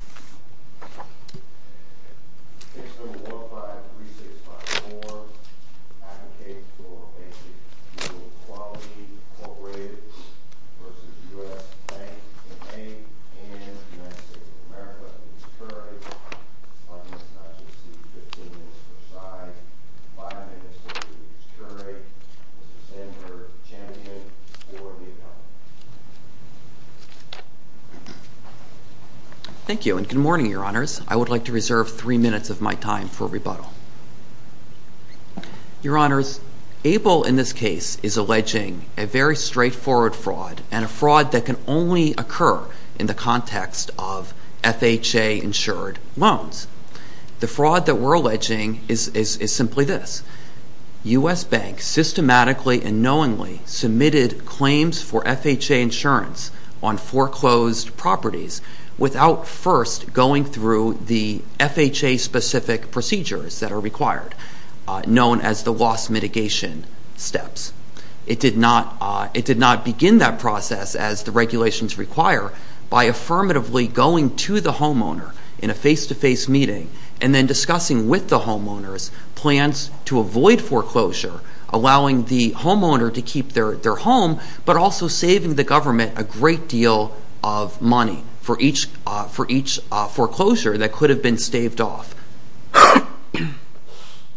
and Bank and U.S. City of America, Mr. Turek, on Ms. Natchez's 15-minute preside, 5-minute for Mr. Turek, Mr. Sandberg's champion, for the account. Thank you, and good morning, Your Honors. I would like to reserve three minutes of my time for rebuttal. Your Honors, ABLE in this case is alleging a very straightforward fraud, and a fraud that can only occur in the context of FHA-insured loans. The fraud that we're alleging is simply this. U.S. Bank systematically and knowingly submitted claims for FHA insurance on foreclosed properties without first going through the FHA-specific procedures that are required, known as the loss mitigation steps. It did not begin that process, as the regulations require, by affirmatively going to the homeowner in a face-to-face meeting and then discussing with the homeowners plans to avoid foreclosure, allowing the homeowner to keep their home, but also saving the government a great deal of money for each foreclosure that could have been staved off.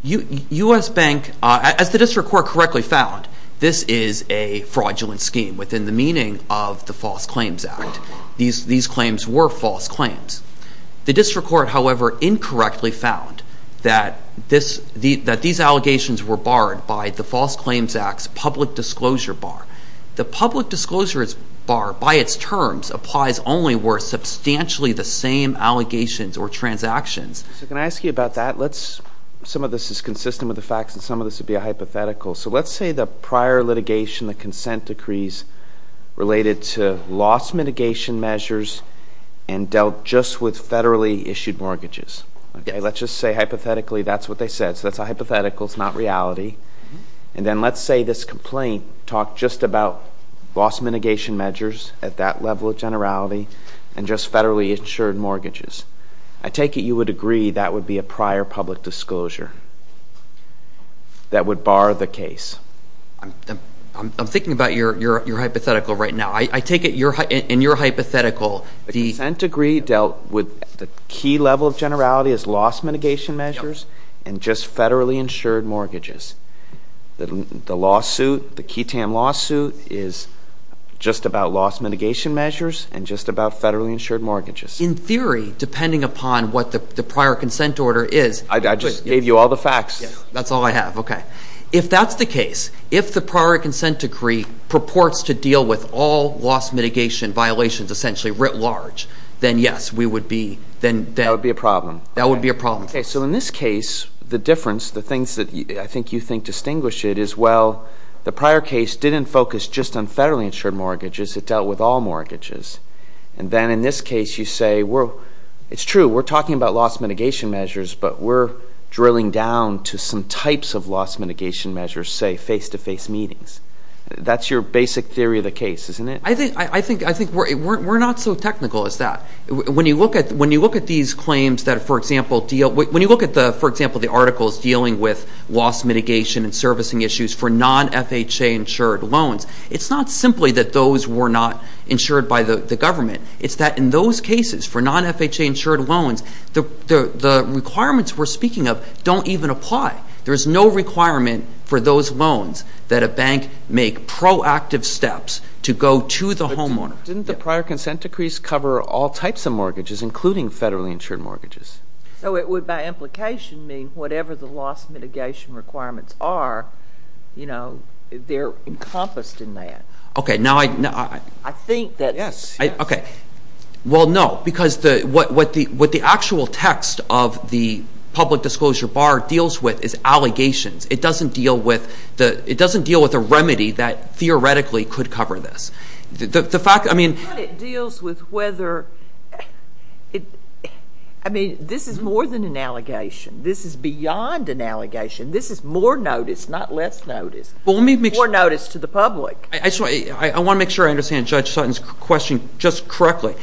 U.S. Bank, as the District Court correctly found, this is a fraudulent scheme within the meaning of the False Claims Act. These claims were false claims. The District Court, however, incorrectly found that these allegations were barred by the False Claims Act's Public Disclosure Bar. The Public Disclosure Bar, by its terms, applies only where substantially the same allegations or transactions. So can I ask you about that? Some of this is consistent with the facts, and some of this would be a hypothetical. So let's say the prior litigation, the consent decrees related to loss mitigation measures and dealt just with federally issued mortgages. Let's just say, hypothetically, that's what they said. So that's a hypothetical. It's not reality. And then let's say this complaint talked just about loss mitigation measures at that level of generality and just federally insured mortgages. I take it you would agree that would be a prior public disclosure that would bar the case. I'm thinking about your hypothetical right now. I take it in your hypothetical, the consent decree dealt with the key level of generality as loss mitigation measures and just federally insured mortgages. The lawsuit, the Keatam lawsuit, is just about loss mitigation measures and just about federally insured mortgages. In theory, depending upon what the prior consent order is I just gave you all the facts. That's all I have. Okay. If that's the case, if the prior consent decree purports to deal with all loss mitigation violations essentially writ large, then yes, we would be, then that would be a problem. That would be a problem. So in this case, the difference, the things that I think you think distinguish it is, well, the prior case didn't focus just on federally insured mortgages. It dealt with all mortgages. And then in this case, you say, well, it's true. We're talking about loss mitigation measures, but we're drilling down to some types of loss mitigation measures, say face-to-face meetings. That's your basic theory of the case, isn't it? I think we're not so technical as that. When you look at these claims that, for example, when you look at, for example, the articles dealing with loss mitigation and servicing issues for non-FHA insured loans, it's not simply that those were not insured by the government. It's that in those cases for non-FHA insured loans, the requirements we're speaking of don't even apply. There's no requirement for those loans that a bank make proactive steps to go to the homeowner. Didn't the prior consent decrees cover all types of mortgages, including federally insured mortgages? So it would, by implication, mean whatever the loss mitigation requirements are, you know, they're encompassed in that. Okay, now I. I think that. Yes. Okay. Well, no, because what the actual text of the public disclosure bar deals with is allegations. It doesn't deal with a remedy that theoretically could cover this. The fact, I mean. It deals with whether. I mean, this is more than an allegation. This is beyond an allegation. This is more notice, not less notice. Well, let me. More notice to the public. I just want. I want to make sure I understand Judge Sutton's question just correctly.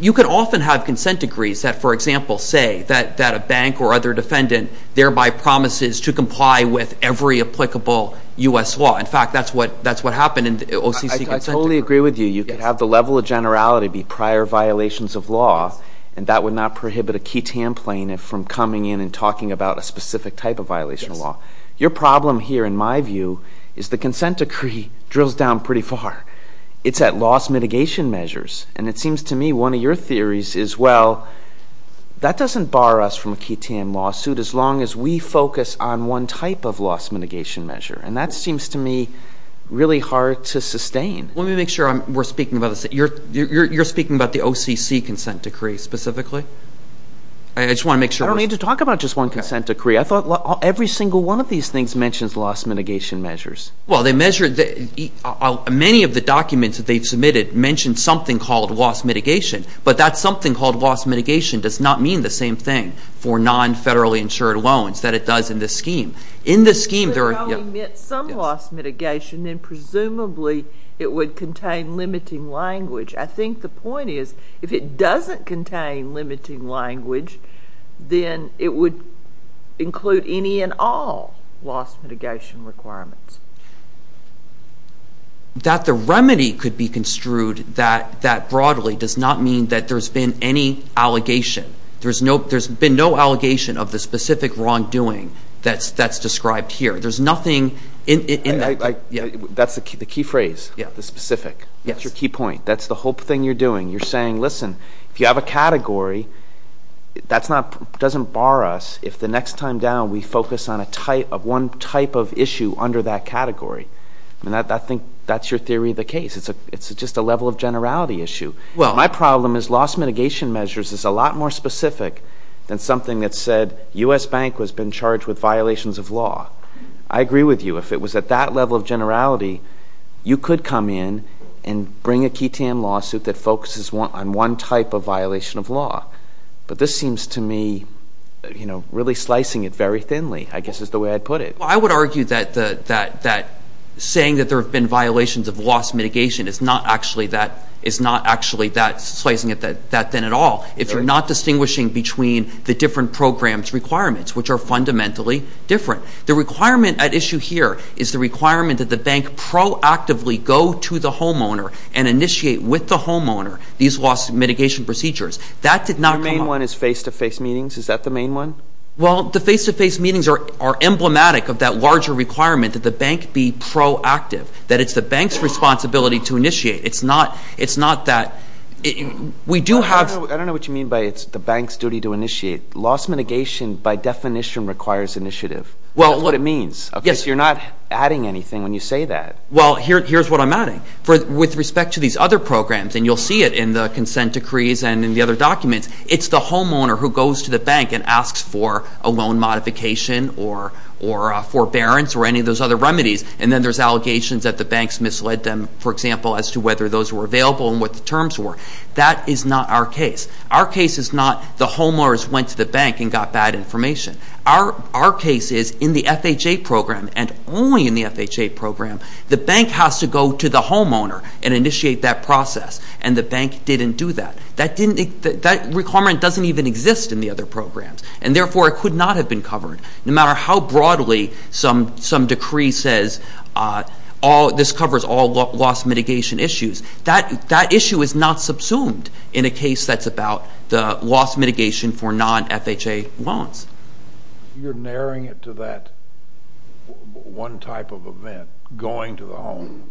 You can often have consent decrees that, for example, say that a bank or other defendant thereby promises to comply with every applicable U.S. law. In fact, that's what happened in the OCC consent decree. I totally agree with you. You could have the level of generality be prior violations of law, and that would not prohibit a key template from coming in and talking about a specific type of violation of law. Your problem here, in my view, is the consent decree drills down pretty far. It's at loss mitigation measures. And it seems to me one of your theories is, well, that doesn't bar us from a KTM lawsuit as long as we focus on one type of loss mitigation measure. And that seems to me really hard to sustain. Let me make sure we're speaking about this. You're speaking about the OCC consent decree specifically? I just want to make sure. I don't need to talk about just one consent decree. I thought every single one of these things mentions loss mitigation measures. Well, they measure the ñ many of the documents that they've submitted mention something called loss mitigation, but that something called loss mitigation does not mean the same thing for non-federally insured loans that it does in this scheme. In this scheme, there are ñ If it only meant some loss mitigation, then presumably it would contain limiting language. I think the point is if it doesn't contain limiting language, then it would include any and all loss mitigation requirements. That the remedy could be construed that broadly does not mean that there's been any allegation. There's been no allegation of the specific wrongdoing that's described here. There's nothing in that. That's the key phrase, the specific. That's your key point. That's the whole thing you're doing. You're saying, listen, if you have a category, that doesn't bar us if the next time down we focus on one type of issue under that category. I think that's your theory of the case. It's just a level of generality issue. My problem is loss mitigation measures is a lot more specific than something that said U.S. Bank has been charged with violations of law. I agree with you. If it was at that level of generality, you could come in and bring a KTAM lawsuit that focuses on one type of violation of law. But this seems to me really slicing it very thinly, I guess is the way I'd put it. I would argue that saying that there have been violations of loss mitigation is not actually slicing it that thin at all if you're not distinguishing between the different program's requirements, which are fundamentally different. The requirement at issue here is the requirement that the bank proactively go to the homeowner and initiate with the homeowner these loss mitigation procedures. That did not come up. Your main one is face-to-face meetings. Is that the main one? Well, the face-to-face meetings are emblematic of that larger requirement that the bank be proactive, that it's the bank's responsibility to initiate. It's not that we do have – I don't know what you mean by it's the bank's duty to initiate. Loss mitigation by definition requires initiative. That's what it means. Yes. You're not adding anything when you say that. Well, here's what I'm adding. With respect to these other programs, and you'll see it in the consent decrees and in the other documents, it's the homeowner who goes to the bank and asks for a loan modification or forbearance or any of those other remedies, and then there's allegations that the banks misled them, for example, as to whether those were available and what the terms were. That is not our case. Our case is not the homeowners went to the bank and got bad information. Our case is in the FHA program, and only in the FHA program, the bank has to go to the homeowner and initiate that process, and the bank didn't do that. That requirement doesn't even exist in the other programs, and therefore it could not have been covered. No matter how broadly some decree says this covers all loss mitigation issues, that issue is not subsumed in a case that's about the loss mitigation for non-FHA loans. You're narrowing it to that one type of event, going to the home.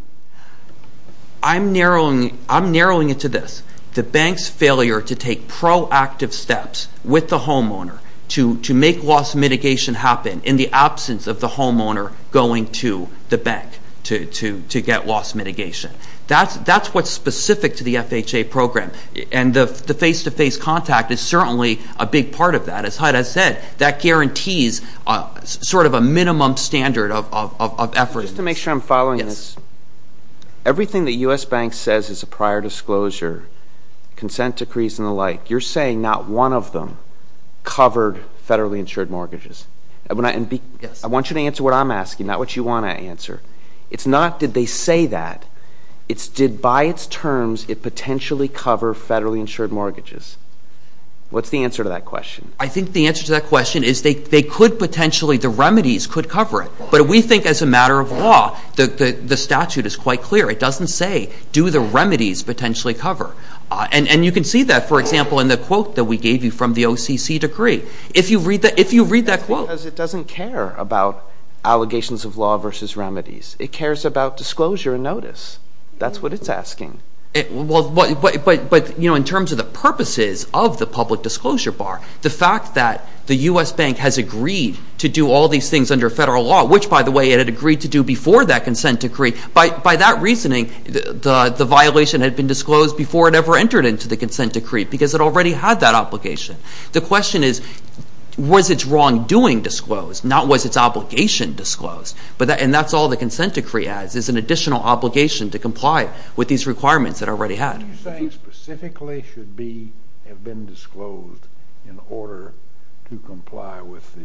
I'm narrowing it to this. The bank's failure to take proactive steps with the homeowner to make loss mitigation happen in the absence of the homeowner going to the bank to get loss mitigation. That's what's specific to the FHA program, and the face-to-face contact is certainly a big part of that. As Hyda said, that guarantees sort of a minimum standard of effort. Just to make sure I'm following this, everything the U.S. Bank says is a prior disclosure, consent decrees and the like, you're saying not one of them covered federally insured mortgages. Yes. I want you to answer what I'm asking, not what you want to answer. It's not did they say that. It's did by its terms it potentially cover federally insured mortgages. What's the answer to that question? I think the answer to that question is they could potentially, the remedies could cover it. But we think as a matter of law, the statute is quite clear. It doesn't say do the remedies potentially cover. And you can see that, for example, in the quote that we gave you from the OCC decree. If you read that quote. Because it doesn't care about allegations of law versus remedies. It cares about disclosure and notice. That's what it's asking. But, you know, in terms of the purposes of the public disclosure bar, the fact that the U.S. Bank has agreed to do all these things under federal law, which, by the way, it had agreed to do before that consent decree, by that reasoning the violation had been disclosed before it ever entered into the consent decree because it already had that obligation. The question is was its wrongdoing disclosed, not was its obligation disclosed. And that's all the consent decree adds is an additional obligation to comply with these requirements it already had. Are you saying specifically should be, have been disclosed in order to comply with the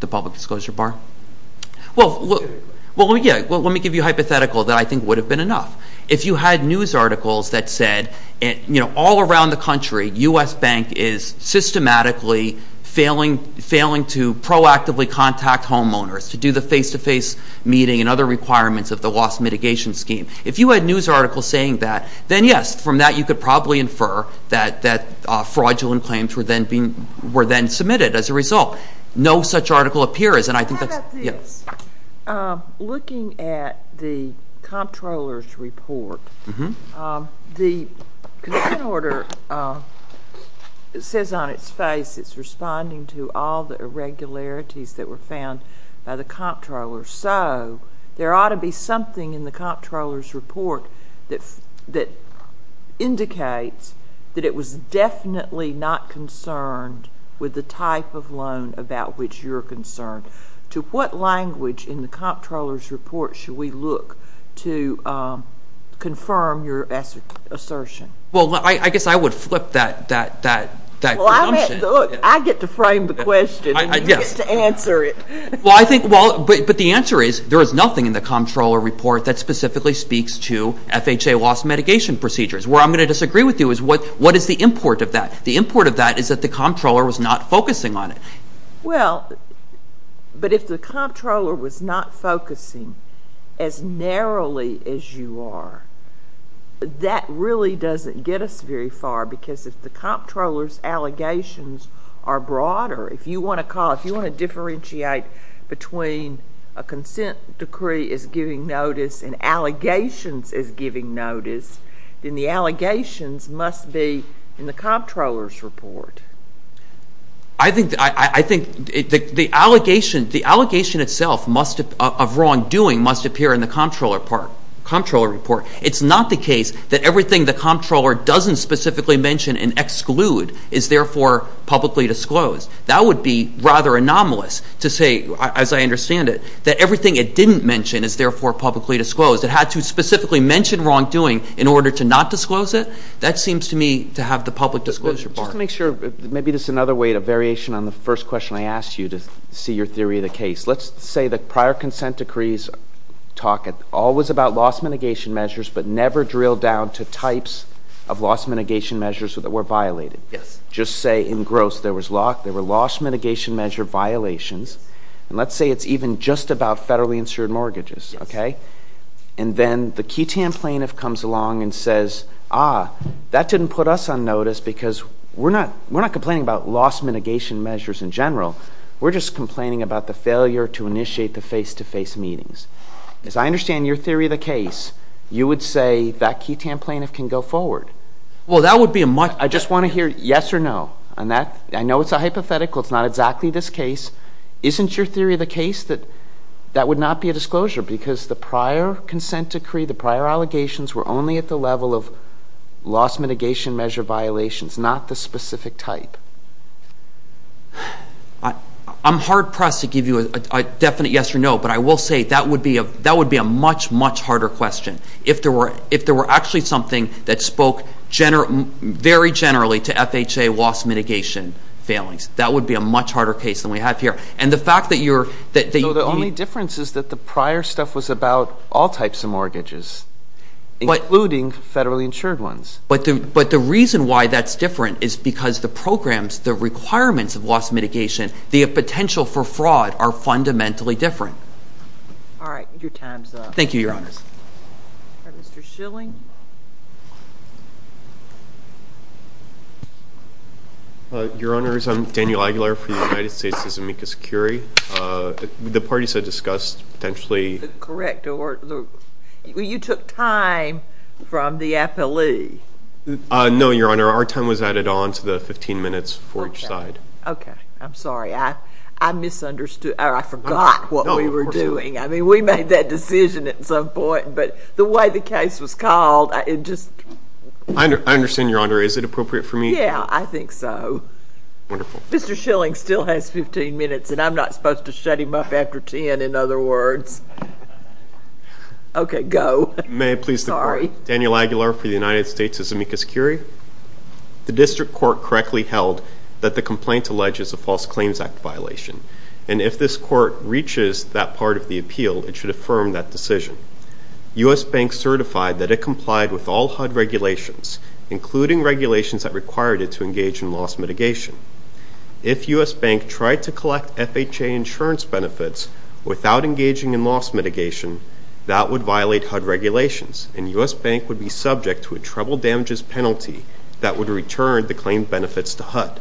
The public disclosure bar? Well, let me give you a hypothetical that I think would have been enough. If you had news articles that said, you know, all around the country, U.S. Bank is systematically failing to proactively contact homeowners to do the face-to-face meeting and other requirements of the loss mitigation scheme. If you had news articles saying that, then, yes, from that you could probably infer that fraudulent claims were then submitted as a result. No such article appears, and I think that's Looking at the comptroller's report, the consent order says on its face it's responding to all the irregularities that were found by the comptroller. So there ought to be something in the comptroller's report that indicates that it was definitely not concerned with the type of loan about which you're concerned to what language in the comptroller's report should we look to confirm your assertion? Well, I guess I would flip that. I get to frame the question and you get to answer it. Well, I think, but the answer is there is nothing in the comptroller report that specifically speaks to FHA loss mitigation procedures. Where I'm going to disagree with you is what is the import of that? The import of that is that the comptroller was not focusing on it. Well, but if the comptroller was not focusing as narrowly as you are, that really doesn't get us very far because if the comptroller's allegations are broader, if you want to differentiate between a consent decree is giving notice and allegations is giving notice, then the allegations must be in the comptroller's report. I think the allegation itself of wrongdoing must appear in the comptroller report. It's not the case that everything the comptroller doesn't specifically mention and exclude is therefore publicly disclosed. That would be rather anomalous to say, as I understand it, that everything it didn't mention is therefore publicly disclosed. It had to specifically mention wrongdoing in order to not disclose it. That seems to me to have the public disclosure part. Just to make sure, maybe this is another way, a variation on the first question I asked you to see your theory of the case. Let's say the prior consent decrees talk always about loss mitigation measures but never drill down to types of loss mitigation measures that were violated. Just say in gross there was loss mitigation measure violations, and let's say it's even just about federally insured mortgages. And then the QTAM plaintiff comes along and says, ah, that didn't put us on notice because we're not complaining about loss mitigation measures in general. We're just complaining about the failure to initiate the face-to-face meetings. As I understand your theory of the case, you would say that QTAM plaintiff can go forward. Well, that would be a much I just want to hear yes or no on that. I know it's a hypothetical. It's not exactly this case. Isn't your theory of the case that that would not be a disclosure because the prior consent decree, the prior allegations, were only at the level of loss mitigation measure violations, not the specific type? I'm hard-pressed to give you a definite yes or no, but I will say that would be a much, much harder question. If there were actually something that spoke very generally to FHA loss mitigation failings, that would be a much harder case than we have here. So the only difference is that the prior stuff was about all types of mortgages, including federally insured ones. But the reason why that's different is because the programs, the requirements of loss mitigation, the potential for fraud are fundamentally different. All right. Your time's up. Thank you, Your Honors. All right. Mr. Schilling. Your Honors, I'm Daniel Aguilar for the United States' Amicus Curie. The parties I discussed potentially — Correct. You took time from the appellee. No, Your Honor. Our time was added on to the 15 minutes for each side. Okay. Okay. I misunderstood, or I forgot what we were doing. No, of course you did. I mean, we made that decision at some point, but the way the case was called, it just — I understand, Your Honor. Is it appropriate for me to — Yeah, I think so. Wonderful. Mr. Schilling still has 15 minutes, and I'm not supposed to shut him up after 10, in other words. Okay, go. May it please the Court. Sorry. Daniel Aguilar for the United States' Amicus Curie. The district court correctly held that the complaint alleges a false claims act violation, and if this court reaches that part of the appeal, it should affirm that decision. U.S. Bank certified that it complied with all HUD regulations, including regulations that required it to engage in loss mitigation. If U.S. Bank tried to collect FHA insurance benefits without engaging in loss mitigation, that would violate HUD regulations, and U.S. Bank would be subject to a treble damages penalty that would return the claimed benefits to HUD.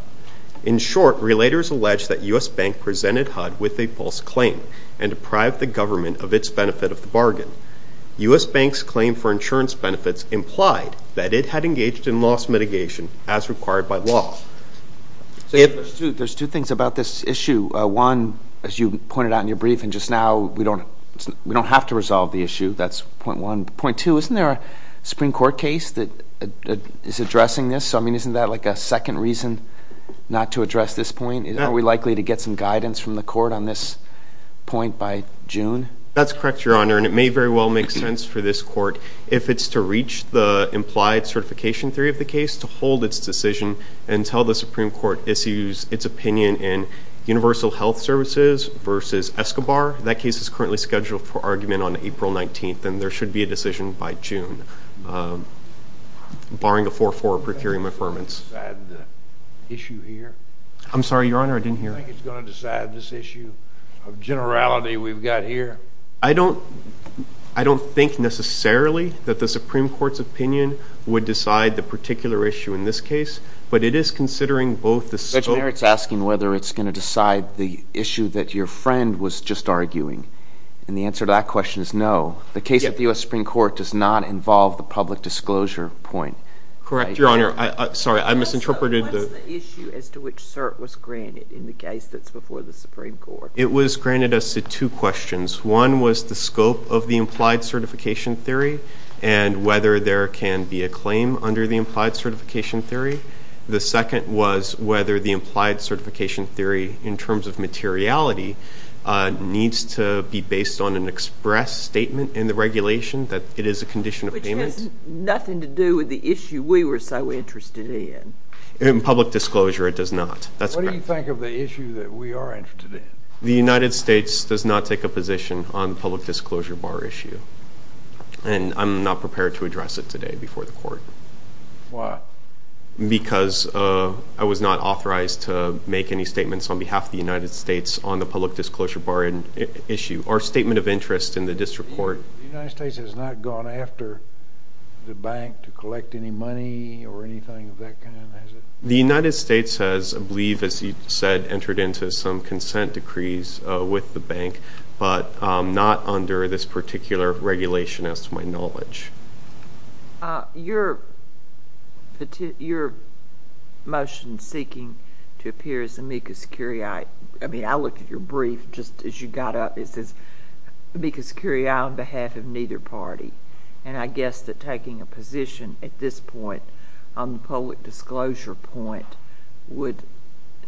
In short, relators allege that U.S. Bank presented HUD with a false claim and deprived the government of its benefit of the bargain. U.S. Bank's claim for insurance benefits implied that it had engaged in loss mitigation as required by law. There's two things about this issue. One, as you pointed out in your brief and just now, we don't have to resolve the issue. That's point one. Point two, isn't there a Supreme Court case that is addressing this? I mean, isn't that like a second reason not to address this point? Are we likely to get some guidance from the court on this point by June? That's correct, Your Honor, and it may very well make sense for this court, if it's to reach the implied certification theory of the case, to hold its decision until the Supreme Court issues its opinion in Universal Health Services v. Escobar. That case is currently scheduled for argument on April 19th, and there should be a decision by June. Barring a 4-4 procuring reaffirmance. I don't think it's going to decide the issue here. I'm sorry, Your Honor, I didn't hear. I don't think it's going to decide this issue of generality we've got here. I don't think necessarily that the Supreme Court's opinion would decide the particular issue in this case, but it is considering both the scope... Judge Merritt's asking whether it's going to decide the issue that your friend was just arguing, and the answer to that question is no. The case at the U.S. Supreme Court does not involve the public disclosure point. Correct, Your Honor. Sorry, I misinterpreted. What's the issue as to which cert was granted in the case that's before the Supreme Court? It was granted as to two questions. One was the scope of the implied certification theory and whether there can be a claim under the implied certification theory. The second was whether the implied certification theory, in terms of materiality, needs to be based on an express statement in the regulation that it is a condition of payment. Which has nothing to do with the issue we were so interested in. In public disclosure, it does not. What do you think of the issue that we are interested in? The United States does not take a position on the public disclosure bar issue, and I'm not prepared to address it today before the Court. Why? Because I was not authorized to make any statements on behalf of the United States on the public disclosure bar issue or statement of interest in the district court. The United States has not gone after the bank to collect any money or anything of that kind, has it? The United States has, I believe, as you said, entered into some consent decrees with the bank, but not under this particular regulation, as to my knowledge. Your motion seeking to appear as amicus curiae, I mean, I looked at your brief just as you got up, it says amicus curiae on behalf of neither party, and I guess that taking a position at this point on the public disclosure point would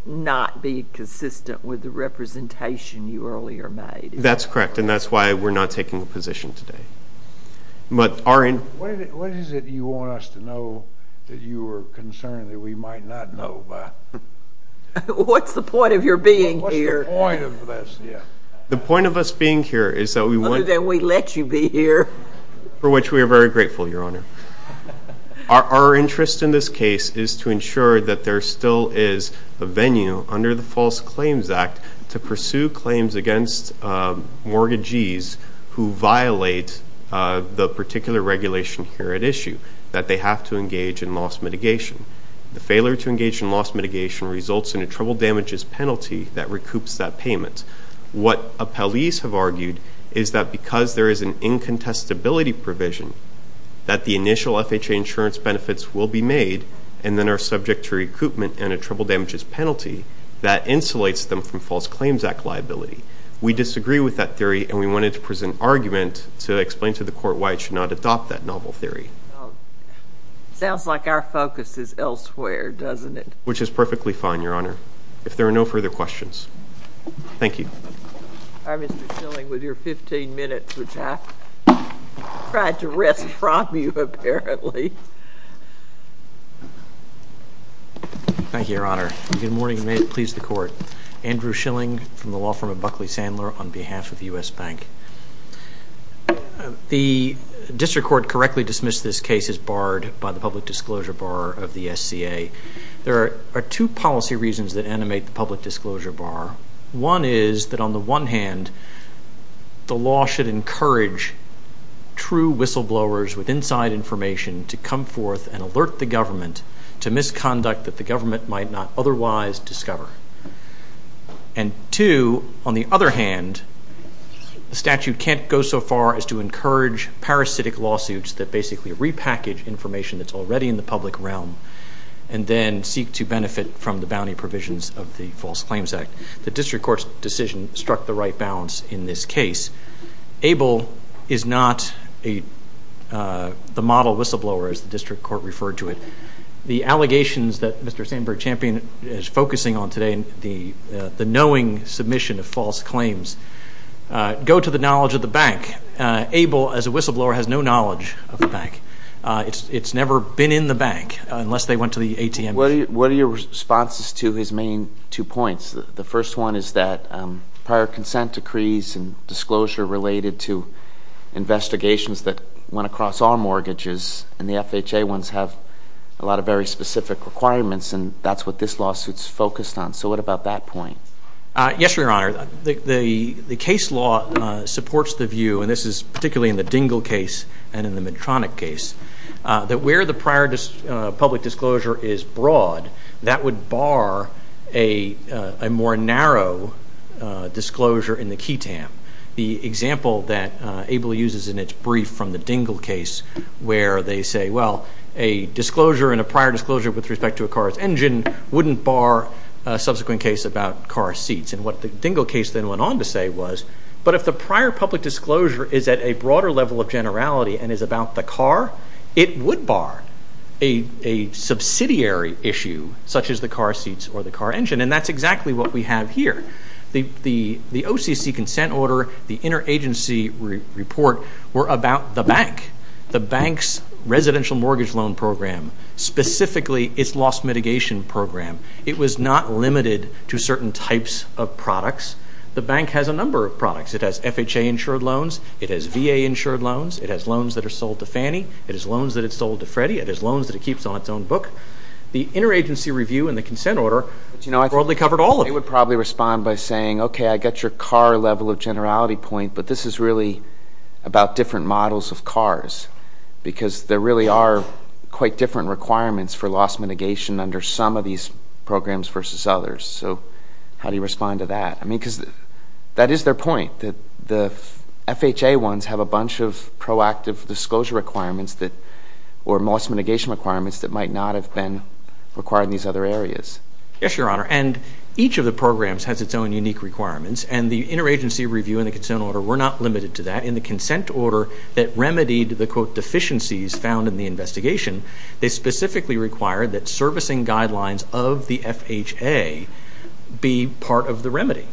not be consistent with the representation you earlier made. That's correct, and that's why we're not taking a position today. What is it you want us to know that you are concerned that we might not know about? What's the point of your being here? What's the point of this? The point of us being here is that we want— Other than we let you be here. For which we are very grateful, Your Honor. Our interest in this case is to ensure that there still is a venue under the False Claims Act to pursue claims against mortgagees who violate the particular regulation here at issue, that they have to engage in loss mitigation. The failure to engage in loss mitigation results in a trouble damages penalty that recoups that payment. What appellees have argued is that because there is an incontestability provision, that the initial FHA insurance benefits will be made and then are subject to recoupment and a trouble damages penalty that insulates them from False Claims Act liability. We disagree with that theory and we wanted to present argument to explain to the court why it should not adopt that novel theory. Sounds like our focus is elsewhere, doesn't it? Which is perfectly fine, Your Honor, if there are no further questions. Thank you. All right, Mr. Schilling, with your 15 minutes, which I tried to wrest from you, apparently. Thank you, Your Honor. Good morning and may it please the court. Andrew Schilling from the law firm of Buckley Sandler on behalf of U.S. Bank. The district court correctly dismissed this case as barred by the public disclosure bar of the SCA. There are two policy reasons that animate the public disclosure bar. One is that on the one hand, the law should encourage true whistleblowers with inside information to come forth and alert the government to misconduct that the government might not otherwise discover. And two, on the other hand, the statute can't go so far as to encourage parasitic lawsuits that basically repackage information that's already in the public realm and then seek to benefit from the bounty provisions of the False Claims Act. The district court's decision struck the right balance in this case. Able is not the model whistleblower, as the district court referred to it. The allegations that Mr. Sandberg Champion is focusing on today, the knowing submission of false claims, go to the knowledge of the bank. Able, as a whistleblower, has no knowledge of the bank. It's never been in the bank unless they went to the ATM. What are your responses to his main two points? The first one is that prior consent decrees and disclosure related to investigations that went across all mortgages, and the FHA ones have a lot of very specific requirements, and that's what this lawsuit's focused on. So what about that point? Yes, Your Honor. The case law supports the view, and this is particularly in the Dingell case and in the Medtronic case, that where the prior public disclosure is broad, that would bar a more narrow disclosure in the key tamp. The example that Able uses in its brief from the Dingell case, where they say, well, a disclosure and a prior disclosure with respect to a car's engine wouldn't bar a subsequent case about car seats. And what the Dingell case then went on to say was, but if the prior public disclosure is at a broader level of generality and is about the car, it would bar a subsidiary issue such as the car seats or the car engine, and that's exactly what we have here. The OCC consent order, the interagency report were about the bank, the bank's residential mortgage loan program, specifically its loss mitigation program. It was not limited to certain types of products. The bank has a number of products. It has FHA-insured loans. It has VA-insured loans. It has loans that are sold to Fannie. It has loans that are sold to Freddie. It has loans that it keeps on its own book. The interagency review and the consent order broadly covered all of it. They would probably respond by saying, okay, I get your car level of generality point, but this is really about different models of cars because there really are quite different requirements for loss mitigation under some of these programs versus others. So how do you respond to that? I mean, because that is their point, that the FHA ones have a bunch of proactive disclosure requirements or loss mitigation requirements that might not have been required in these other areas. Yes, Your Honor, and each of the programs has its own unique requirements, and the interagency review and the consent order were not limited to that. In the consent order that remedied the, quote, deficiencies found in the investigation, they specifically required that servicing guidelines of the FHA be part of the remedy.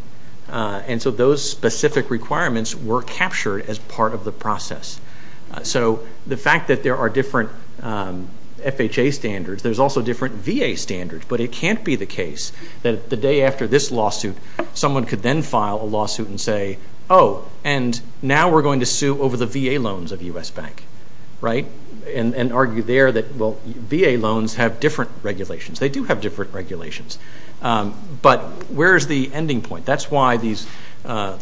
And so those specific requirements were captured as part of the process. So the fact that there are different FHA standards, there's also different VA standards, but it can't be the case that the day after this lawsuit someone could then file a lawsuit and say, oh, and now we're going to sue over the VA loans of U.S. Bank, right, and argue there that, well, VA loans have different regulations. They do have different regulations. But where is the ending point? That's why the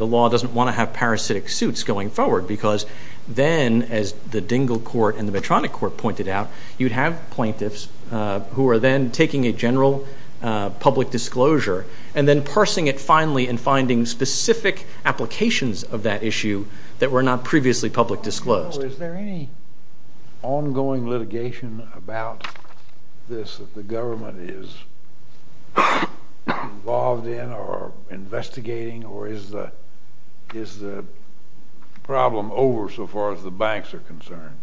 law doesn't want to have parasitic suits going forward because then, as the Dingell Court and the Medtronic Court pointed out, you'd have plaintiffs who are then taking a general public disclosure and then parsing it finally and finding specific applications of that issue that were not previously public disclosed. So is there any ongoing litigation about this that the government is involved in or investigating, or is the problem over so far as the banks are concerned?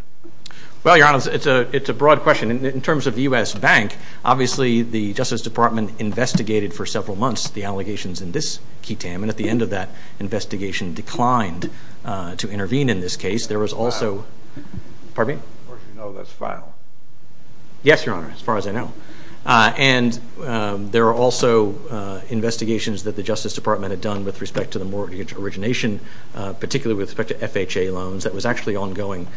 Well, Your Honor, it's a broad question. In terms of U.S. Bank, obviously the Justice Department investigated for several months the allegations in this key TAM, and at the end of that investigation declined to intervene in this case. There was also – pardon me? Of course you know this file. Yes, Your Honor, as far as I know. And there are also investigations that the Justice Department had done with respect to the mortgage origination, particularly with respect to FHA loans, that was actually ongoing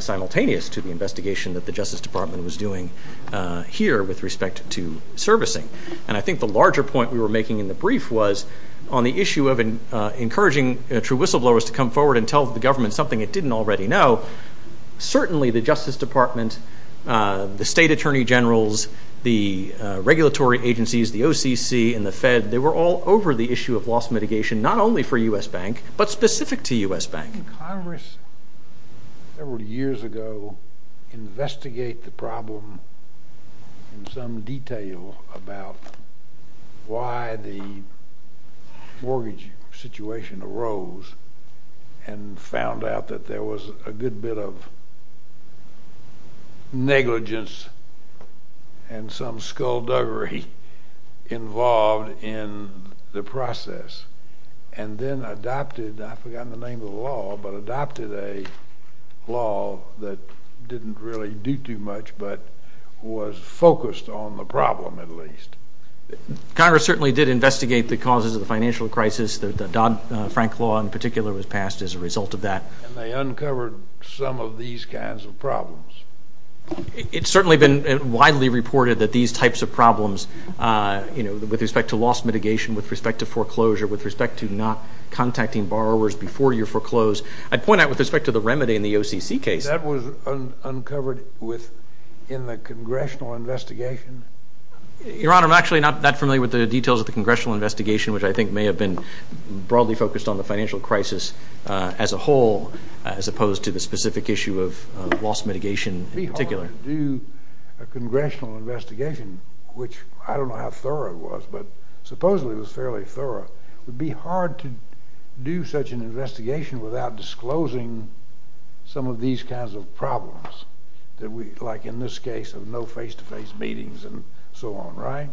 simultaneous to the investigation that the Justice Department was doing here with respect to servicing. And I think the larger point we were making in the brief was on the issue of encouraging true whistleblowers to come forward and tell the government something it didn't already know. Certainly the Justice Department, the state attorney generals, the regulatory agencies, the OCC, and the Fed, they were all over the issue of loss mitigation, not only for U.S. Bank, but specific to U.S. Bank. Didn't Congress several years ago investigate the problem in some detail about why the mortgage situation arose and found out that there was a good bit of negligence and some skullduggery involved in the process and then adopted – I forgot the name of the law – but adopted a law that didn't really do too much but was focused on the problem at least? Congress certainly did investigate the causes of the financial crisis. The Dodd-Frank law in particular was passed as a result of that. And they uncovered some of these kinds of problems? It's certainly been widely reported that these types of problems, you know, with respect to loss mitigation, with respect to foreclosure, with respect to not contacting borrowers before you foreclose. I'd point out with respect to the remedy in the OCC case. That was uncovered in the congressional investigation? Your Honor, I'm actually not that familiar with the details of the congressional investigation, which I think may have been broadly focused on the financial crisis as a whole a congressional investigation, which I don't know how thorough it was, but supposedly it was fairly thorough. It would be hard to do such an investigation without disclosing some of these kinds of problems, like in this case of no face-to-face meetings and so on, right?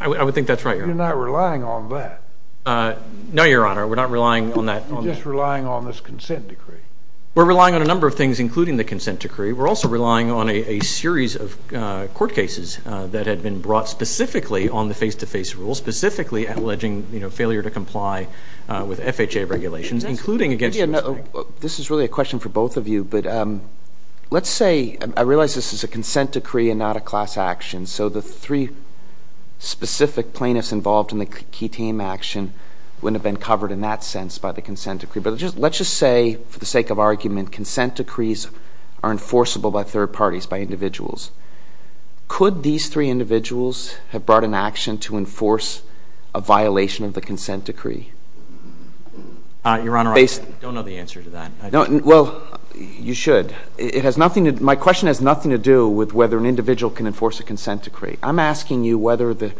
I would think that's right, Your Honor. You're not relying on that? No, Your Honor, we're not relying on that. You're just relying on this consent decree? We're relying on a number of things, including the consent decree. We're also relying on a series of court cases that had been brought specifically on the face-to-face rule, specifically alleging, you know, failure to comply with FHA regulations, including against you. This is really a question for both of you, but let's say, I realize this is a consent decree and not a class action, so the three specific plaintiffs involved in the key team action wouldn't have been covered in that sense by the consent decree, but let's just say, for the sake of argument, consent decrees are enforceable by third parties, by individuals. Could these three individuals have brought an action to enforce a violation of the consent decree? Your Honor, I don't know the answer to that. Well, you should. My question has nothing to do with whether an individual can enforce a consent decree. I'm asking you whether the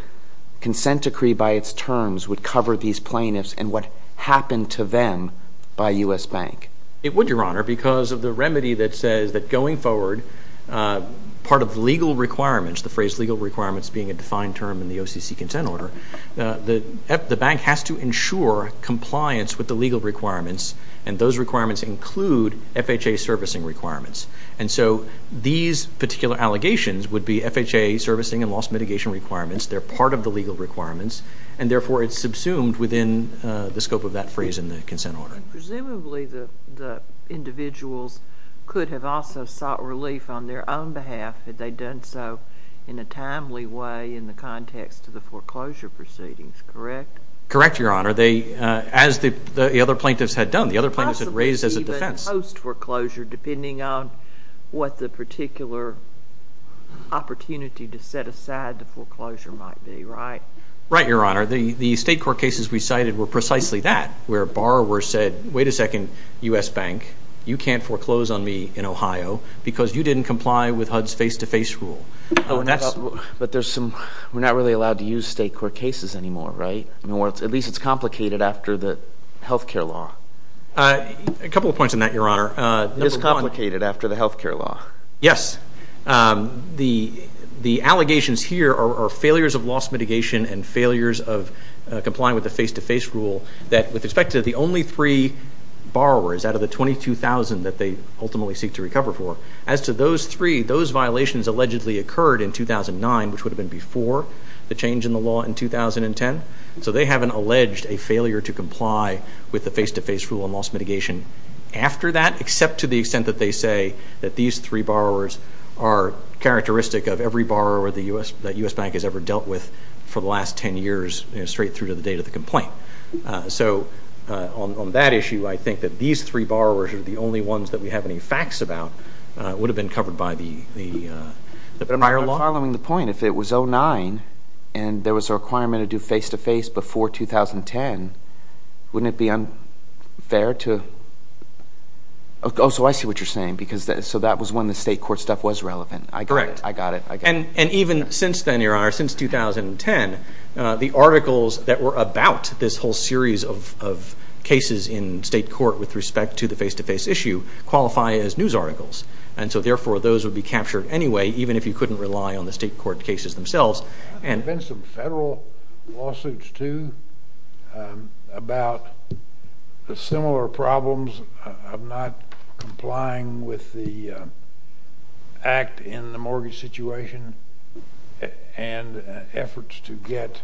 consent decree by its terms would cover these plaintiffs and what happened to them by U.S. Bank. It would, Your Honor, because of the remedy that says that going forward, part of legal requirements, the phrase legal requirements being a defined term in the OCC consent order, the bank has to ensure compliance with the legal requirements, and those requirements include FHA servicing requirements. And so these particular allegations would be FHA servicing and loss mitigation requirements. They're part of the legal requirements, and therefore it's subsumed within the scope of that phrase in the consent order. Presumably the individuals could have also sought relief on their own behalf had they done so in a timely way in the context of the foreclosure proceedings, correct? Correct, Your Honor. As the other plaintiffs had done, the other plaintiffs had raised as a defense. depending on what the particular opportunity to set aside the foreclosure might be, right? Right, Your Honor. The state court cases we cited were precisely that, where a borrower said, wait a second, U.S. Bank, you can't foreclose on me in Ohio because you didn't comply with HUD's face-to-face rule. But we're not really allowed to use state court cases anymore, right? At least it's complicated after the health care law. A couple of points on that, Your Honor. It's complicated after the health care law. Yes. The allegations here are failures of loss mitigation and failures of complying with the face-to-face rule, that with respect to the only three borrowers out of the 22,000 that they ultimately seek to recover for, as to those three, those violations allegedly occurred in 2009, which would have been before the change in the law in 2010. So they haven't alleged a failure to comply with the face-to-face rule on loss mitigation after that, except to the extent that they say that these three borrowers are characteristic of every borrower that U.S. Bank has ever dealt with for the last 10 years, straight through to the date of the complaint. So on that issue, I think that these three borrowers are the only ones that we have any facts about. But following the point, if it was 2009 and there was a requirement to do face-to-face before 2010, wouldn't it be unfair to – oh, so I see what you're saying. So that was when the state court stuff was relevant. Correct. I got it. And even since then, Your Honor, since 2010, the articles that were about this whole series of cases in state court with respect to the face-to-face issue qualify as news articles. And so, therefore, those would be captured anyway, even if you couldn't rely on the state court cases themselves. There have been some federal lawsuits, too, about similar problems of not complying with the act in the mortgage situation and efforts to get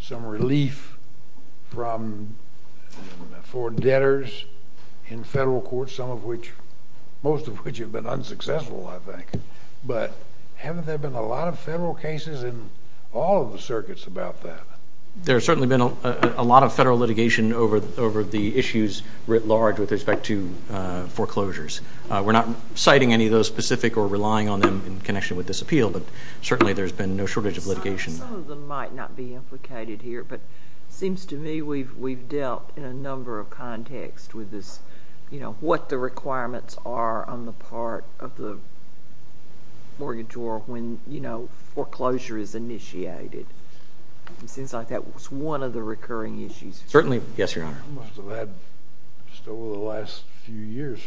some relief for debtors in federal courts, most of which have been unsuccessful, I think. But haven't there been a lot of federal cases in all of the circuits about that? There's certainly been a lot of federal litigation over the issues writ large with respect to foreclosures. We're not citing any of those specific or relying on them in connection with this appeal, but certainly there's been no shortage of litigation. Some of them might not be implicated here, but it seems to me we've dealt in a number of contexts with this, you know, what the requirements are on the part of the mortgagor when, you know, foreclosure is initiated. It seems like that was one of the recurring issues. Certainly. Yes, Your Honor. I must have had just over the last few years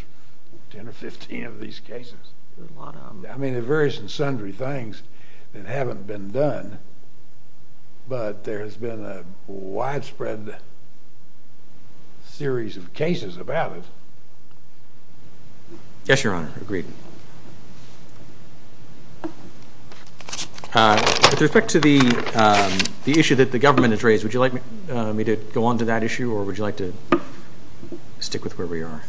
10 or 15 of these cases. I mean, there are various and sundry things that haven't been done, but there has been a widespread series of cases about it. Yes, Your Honor. Agreed. With respect to the issue that the government has raised, would you like me to go on to that issue or would you like to stick with where we are?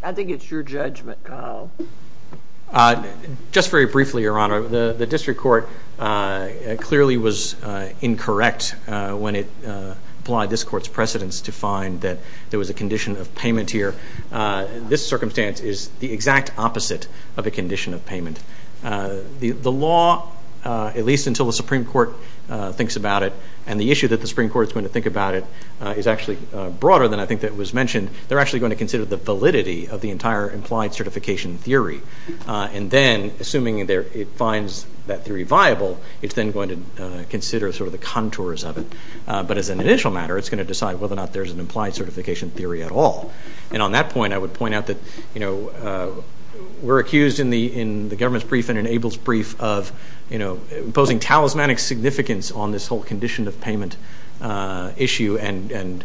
I think it's your judgment, Kyle. Just very briefly, Your Honor, the district court clearly was incorrect when it applied this court's precedence to find that there was a condition of payment here. This circumstance is the exact opposite of a condition of payment. The law, at least until the Supreme Court thinks about it and the issue that the Supreme Court is going to think about it is actually broader than I think that was mentioned, they're actually going to consider the validity of the entire implied certification theory. And then, assuming it finds that theory viable, it's then going to consider sort of the contours of it. But as an initial matter, it's going to decide whether or not there's an implied certification theory at all. And on that point, I would point out that we're accused in the government's brief and in Abel's brief of imposing talismanic significance on this whole condition of payment issue and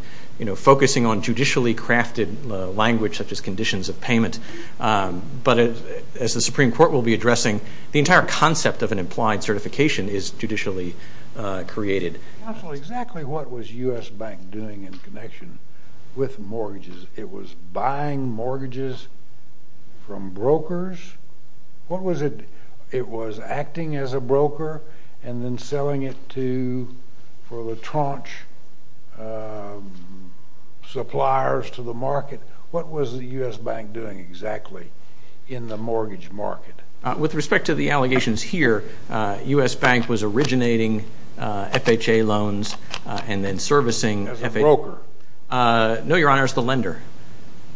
focusing on judicially crafted language such as conditions of payment. But as the Supreme Court will be addressing, the entire concept of an implied certification is judicially created. Counsel, exactly what was U.S. Bank doing in connection with mortgages? It was buying mortgages from brokers? What was it? It was acting as a broker and then selling it to for the tranche suppliers to the market. What was the U.S. Bank doing exactly in the mortgage market? With respect to the allegations here, U.S. Bank was originating FHA loans and then servicing FHA. As a broker? No, Your Honor, as the lender.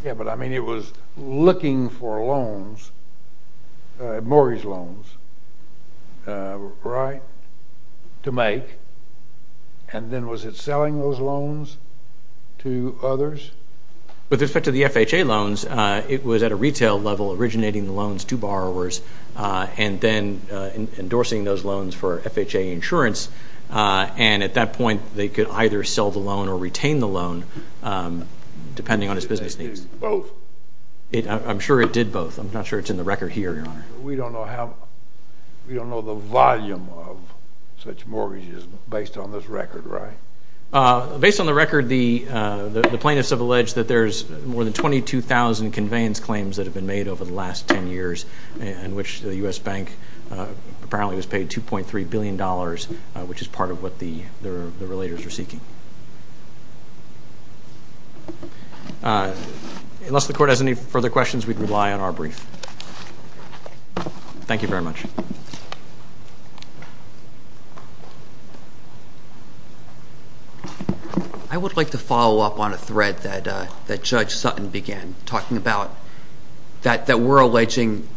Yeah, but, I mean, it was looking for loans, mortgage loans, right, to make. And then was it selling those loans to others? With respect to the FHA loans, it was at a retail level originating loans to borrowers and then endorsing those loans for FHA insurance. And at that point, they could either sell the loan or retain the loan depending on its business needs. It did both? I'm sure it did both. I'm not sure it's in the record here, Your Honor. We don't know how, we don't know the volume of such mortgages based on this record, right? Based on the record, the plaintiffs have alleged that there's more than 22,000 conveyance claims that have been made over the last 10 years in which the U.S. Bank apparently was paid $2.3 billion, which is part of what the relators are seeking. Unless the Court has any further questions, we'd rely on our brief. Thank you very much. I would like to follow up on a thread that Judge Sutton began talking about, that we're alleging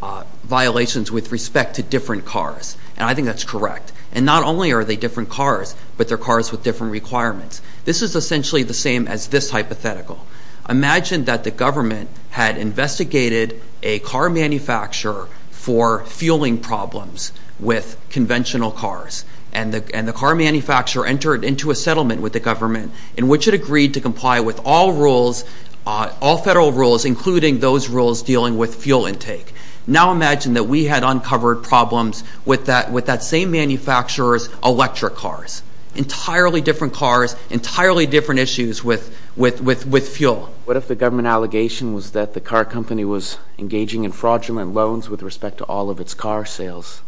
violations with respect to different cars. And I think that's correct. And not only are they different cars, but they're cars with different requirements. This is essentially the same as this hypothetical. Imagine that the government had investigated a car manufacturer for fueling problems with conventional cars. And the car manufacturer entered into a settlement with the government in which it agreed to comply with all rules, all federal rules, including those rules dealing with fuel intake. Now imagine that we had uncovered problems with that same manufacturer's electric cars. Entirely different cars, entirely different issues with fuel. What if the government allegation was that the car company was engaging in fraudulent loans with respect to all of its car sales?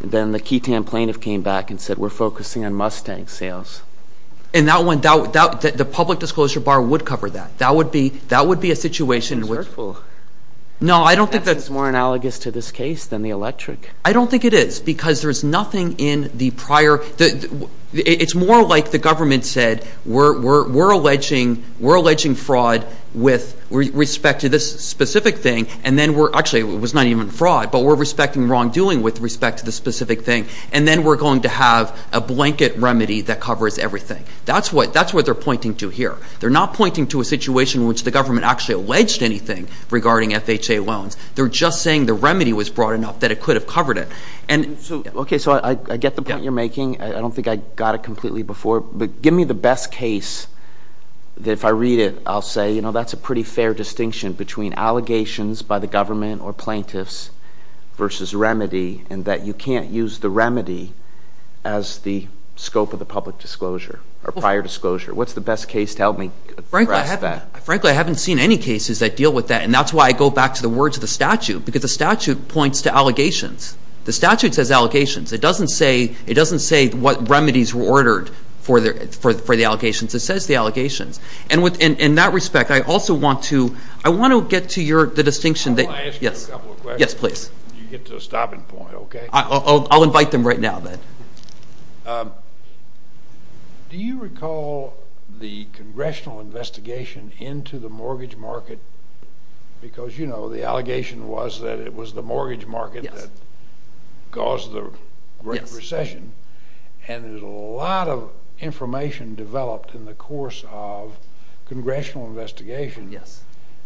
Then the Keaton plaintiff came back and said, we're focusing on Mustang sales. And the public disclosure bar would cover that. That would be a situation in which... That's more analogous to this case than the electric. I don't think it is. Because there's nothing in the prior... It's more like the government said, we're alleging fraud with respect to this specific thing. And then we're... Actually, it was not even fraud. But we're respecting wrongdoing with respect to the specific thing. And then we're going to have a blanket remedy that covers everything. That's what they're pointing to here. They're not pointing to a situation in which the government actually alleged anything regarding FHA loans. They're just saying the remedy was broad enough that it could have covered it. Okay, so I get the point you're making. I don't think I got it completely before. But give me the best case that if I read it, I'll say, you know, that's a pretty fair distinction between allegations by the government or plaintiffs versus remedy and that you can't use the remedy as the scope of the public disclosure or prior disclosure. What's the best case to help me address that? Frankly, I haven't seen any cases that deal with that. And that's why I go back to the words of the statute because the statute points to allegations. The statute says allegations. It doesn't say what remedies were ordered for the allegations. It says the allegations. And in that respect, I also want to get to the distinction that... I want to ask you a couple of questions. Yes, please. You get to a stopping point, okay? I'll invite them right now then. Do you recall the congressional investigation into the mortgage market? Because, you know, the allegation was that it was the mortgage market that caused the Great Recession. And there's a lot of information developed in the course of congressional investigation. Yes.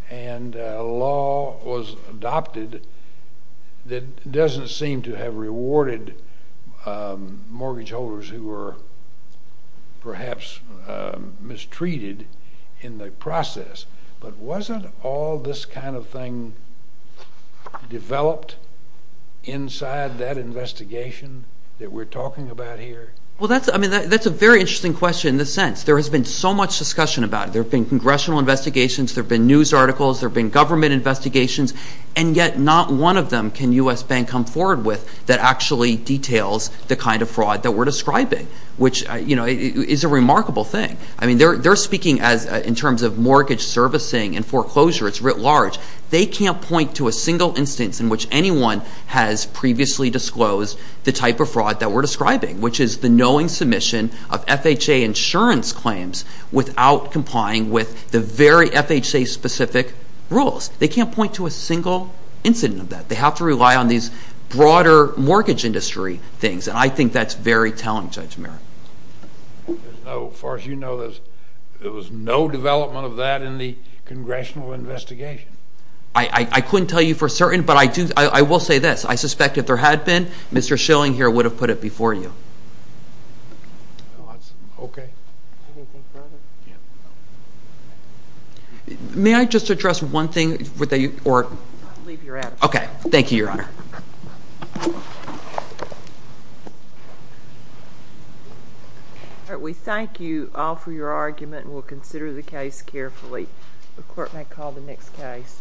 And a law was adopted that doesn't seem to have rewarded mortgage holders who were perhaps mistreated in the process. But wasn't all this kind of thing developed inside that investigation that we're talking about here? Well, that's a very interesting question in the sense there has been so much discussion about it. There have been congressional investigations. There have been news articles. There have been government investigations. And yet not one of them can U.S. Bank come forward with that actually details the kind of fraud that we're describing, which, you know, is a remarkable thing. I mean, they're speaking in terms of mortgage servicing and foreclosure. It's writ large. They can't point to a single instance in which anyone has previously disclosed the type of fraud that we're describing, which is the knowing submission of FHA insurance claims without complying with the very FHA-specific rules. They can't point to a single incident of that. They have to rely on these broader mortgage industry things. And I think that's very telling, Judge Merrick. As far as you know, there was no development of that in the congressional investigation. I couldn't tell you for certain, but I will say this. I suspect if there had been, Mr. Schilling here would have put it before you. No, that's okay. Anything further? Yeah. May I just address one thing? Leave your address. Okay. Thank you, Your Honor. All right, we thank you all for your argument, and we'll consider the case carefully. The court may call the next case.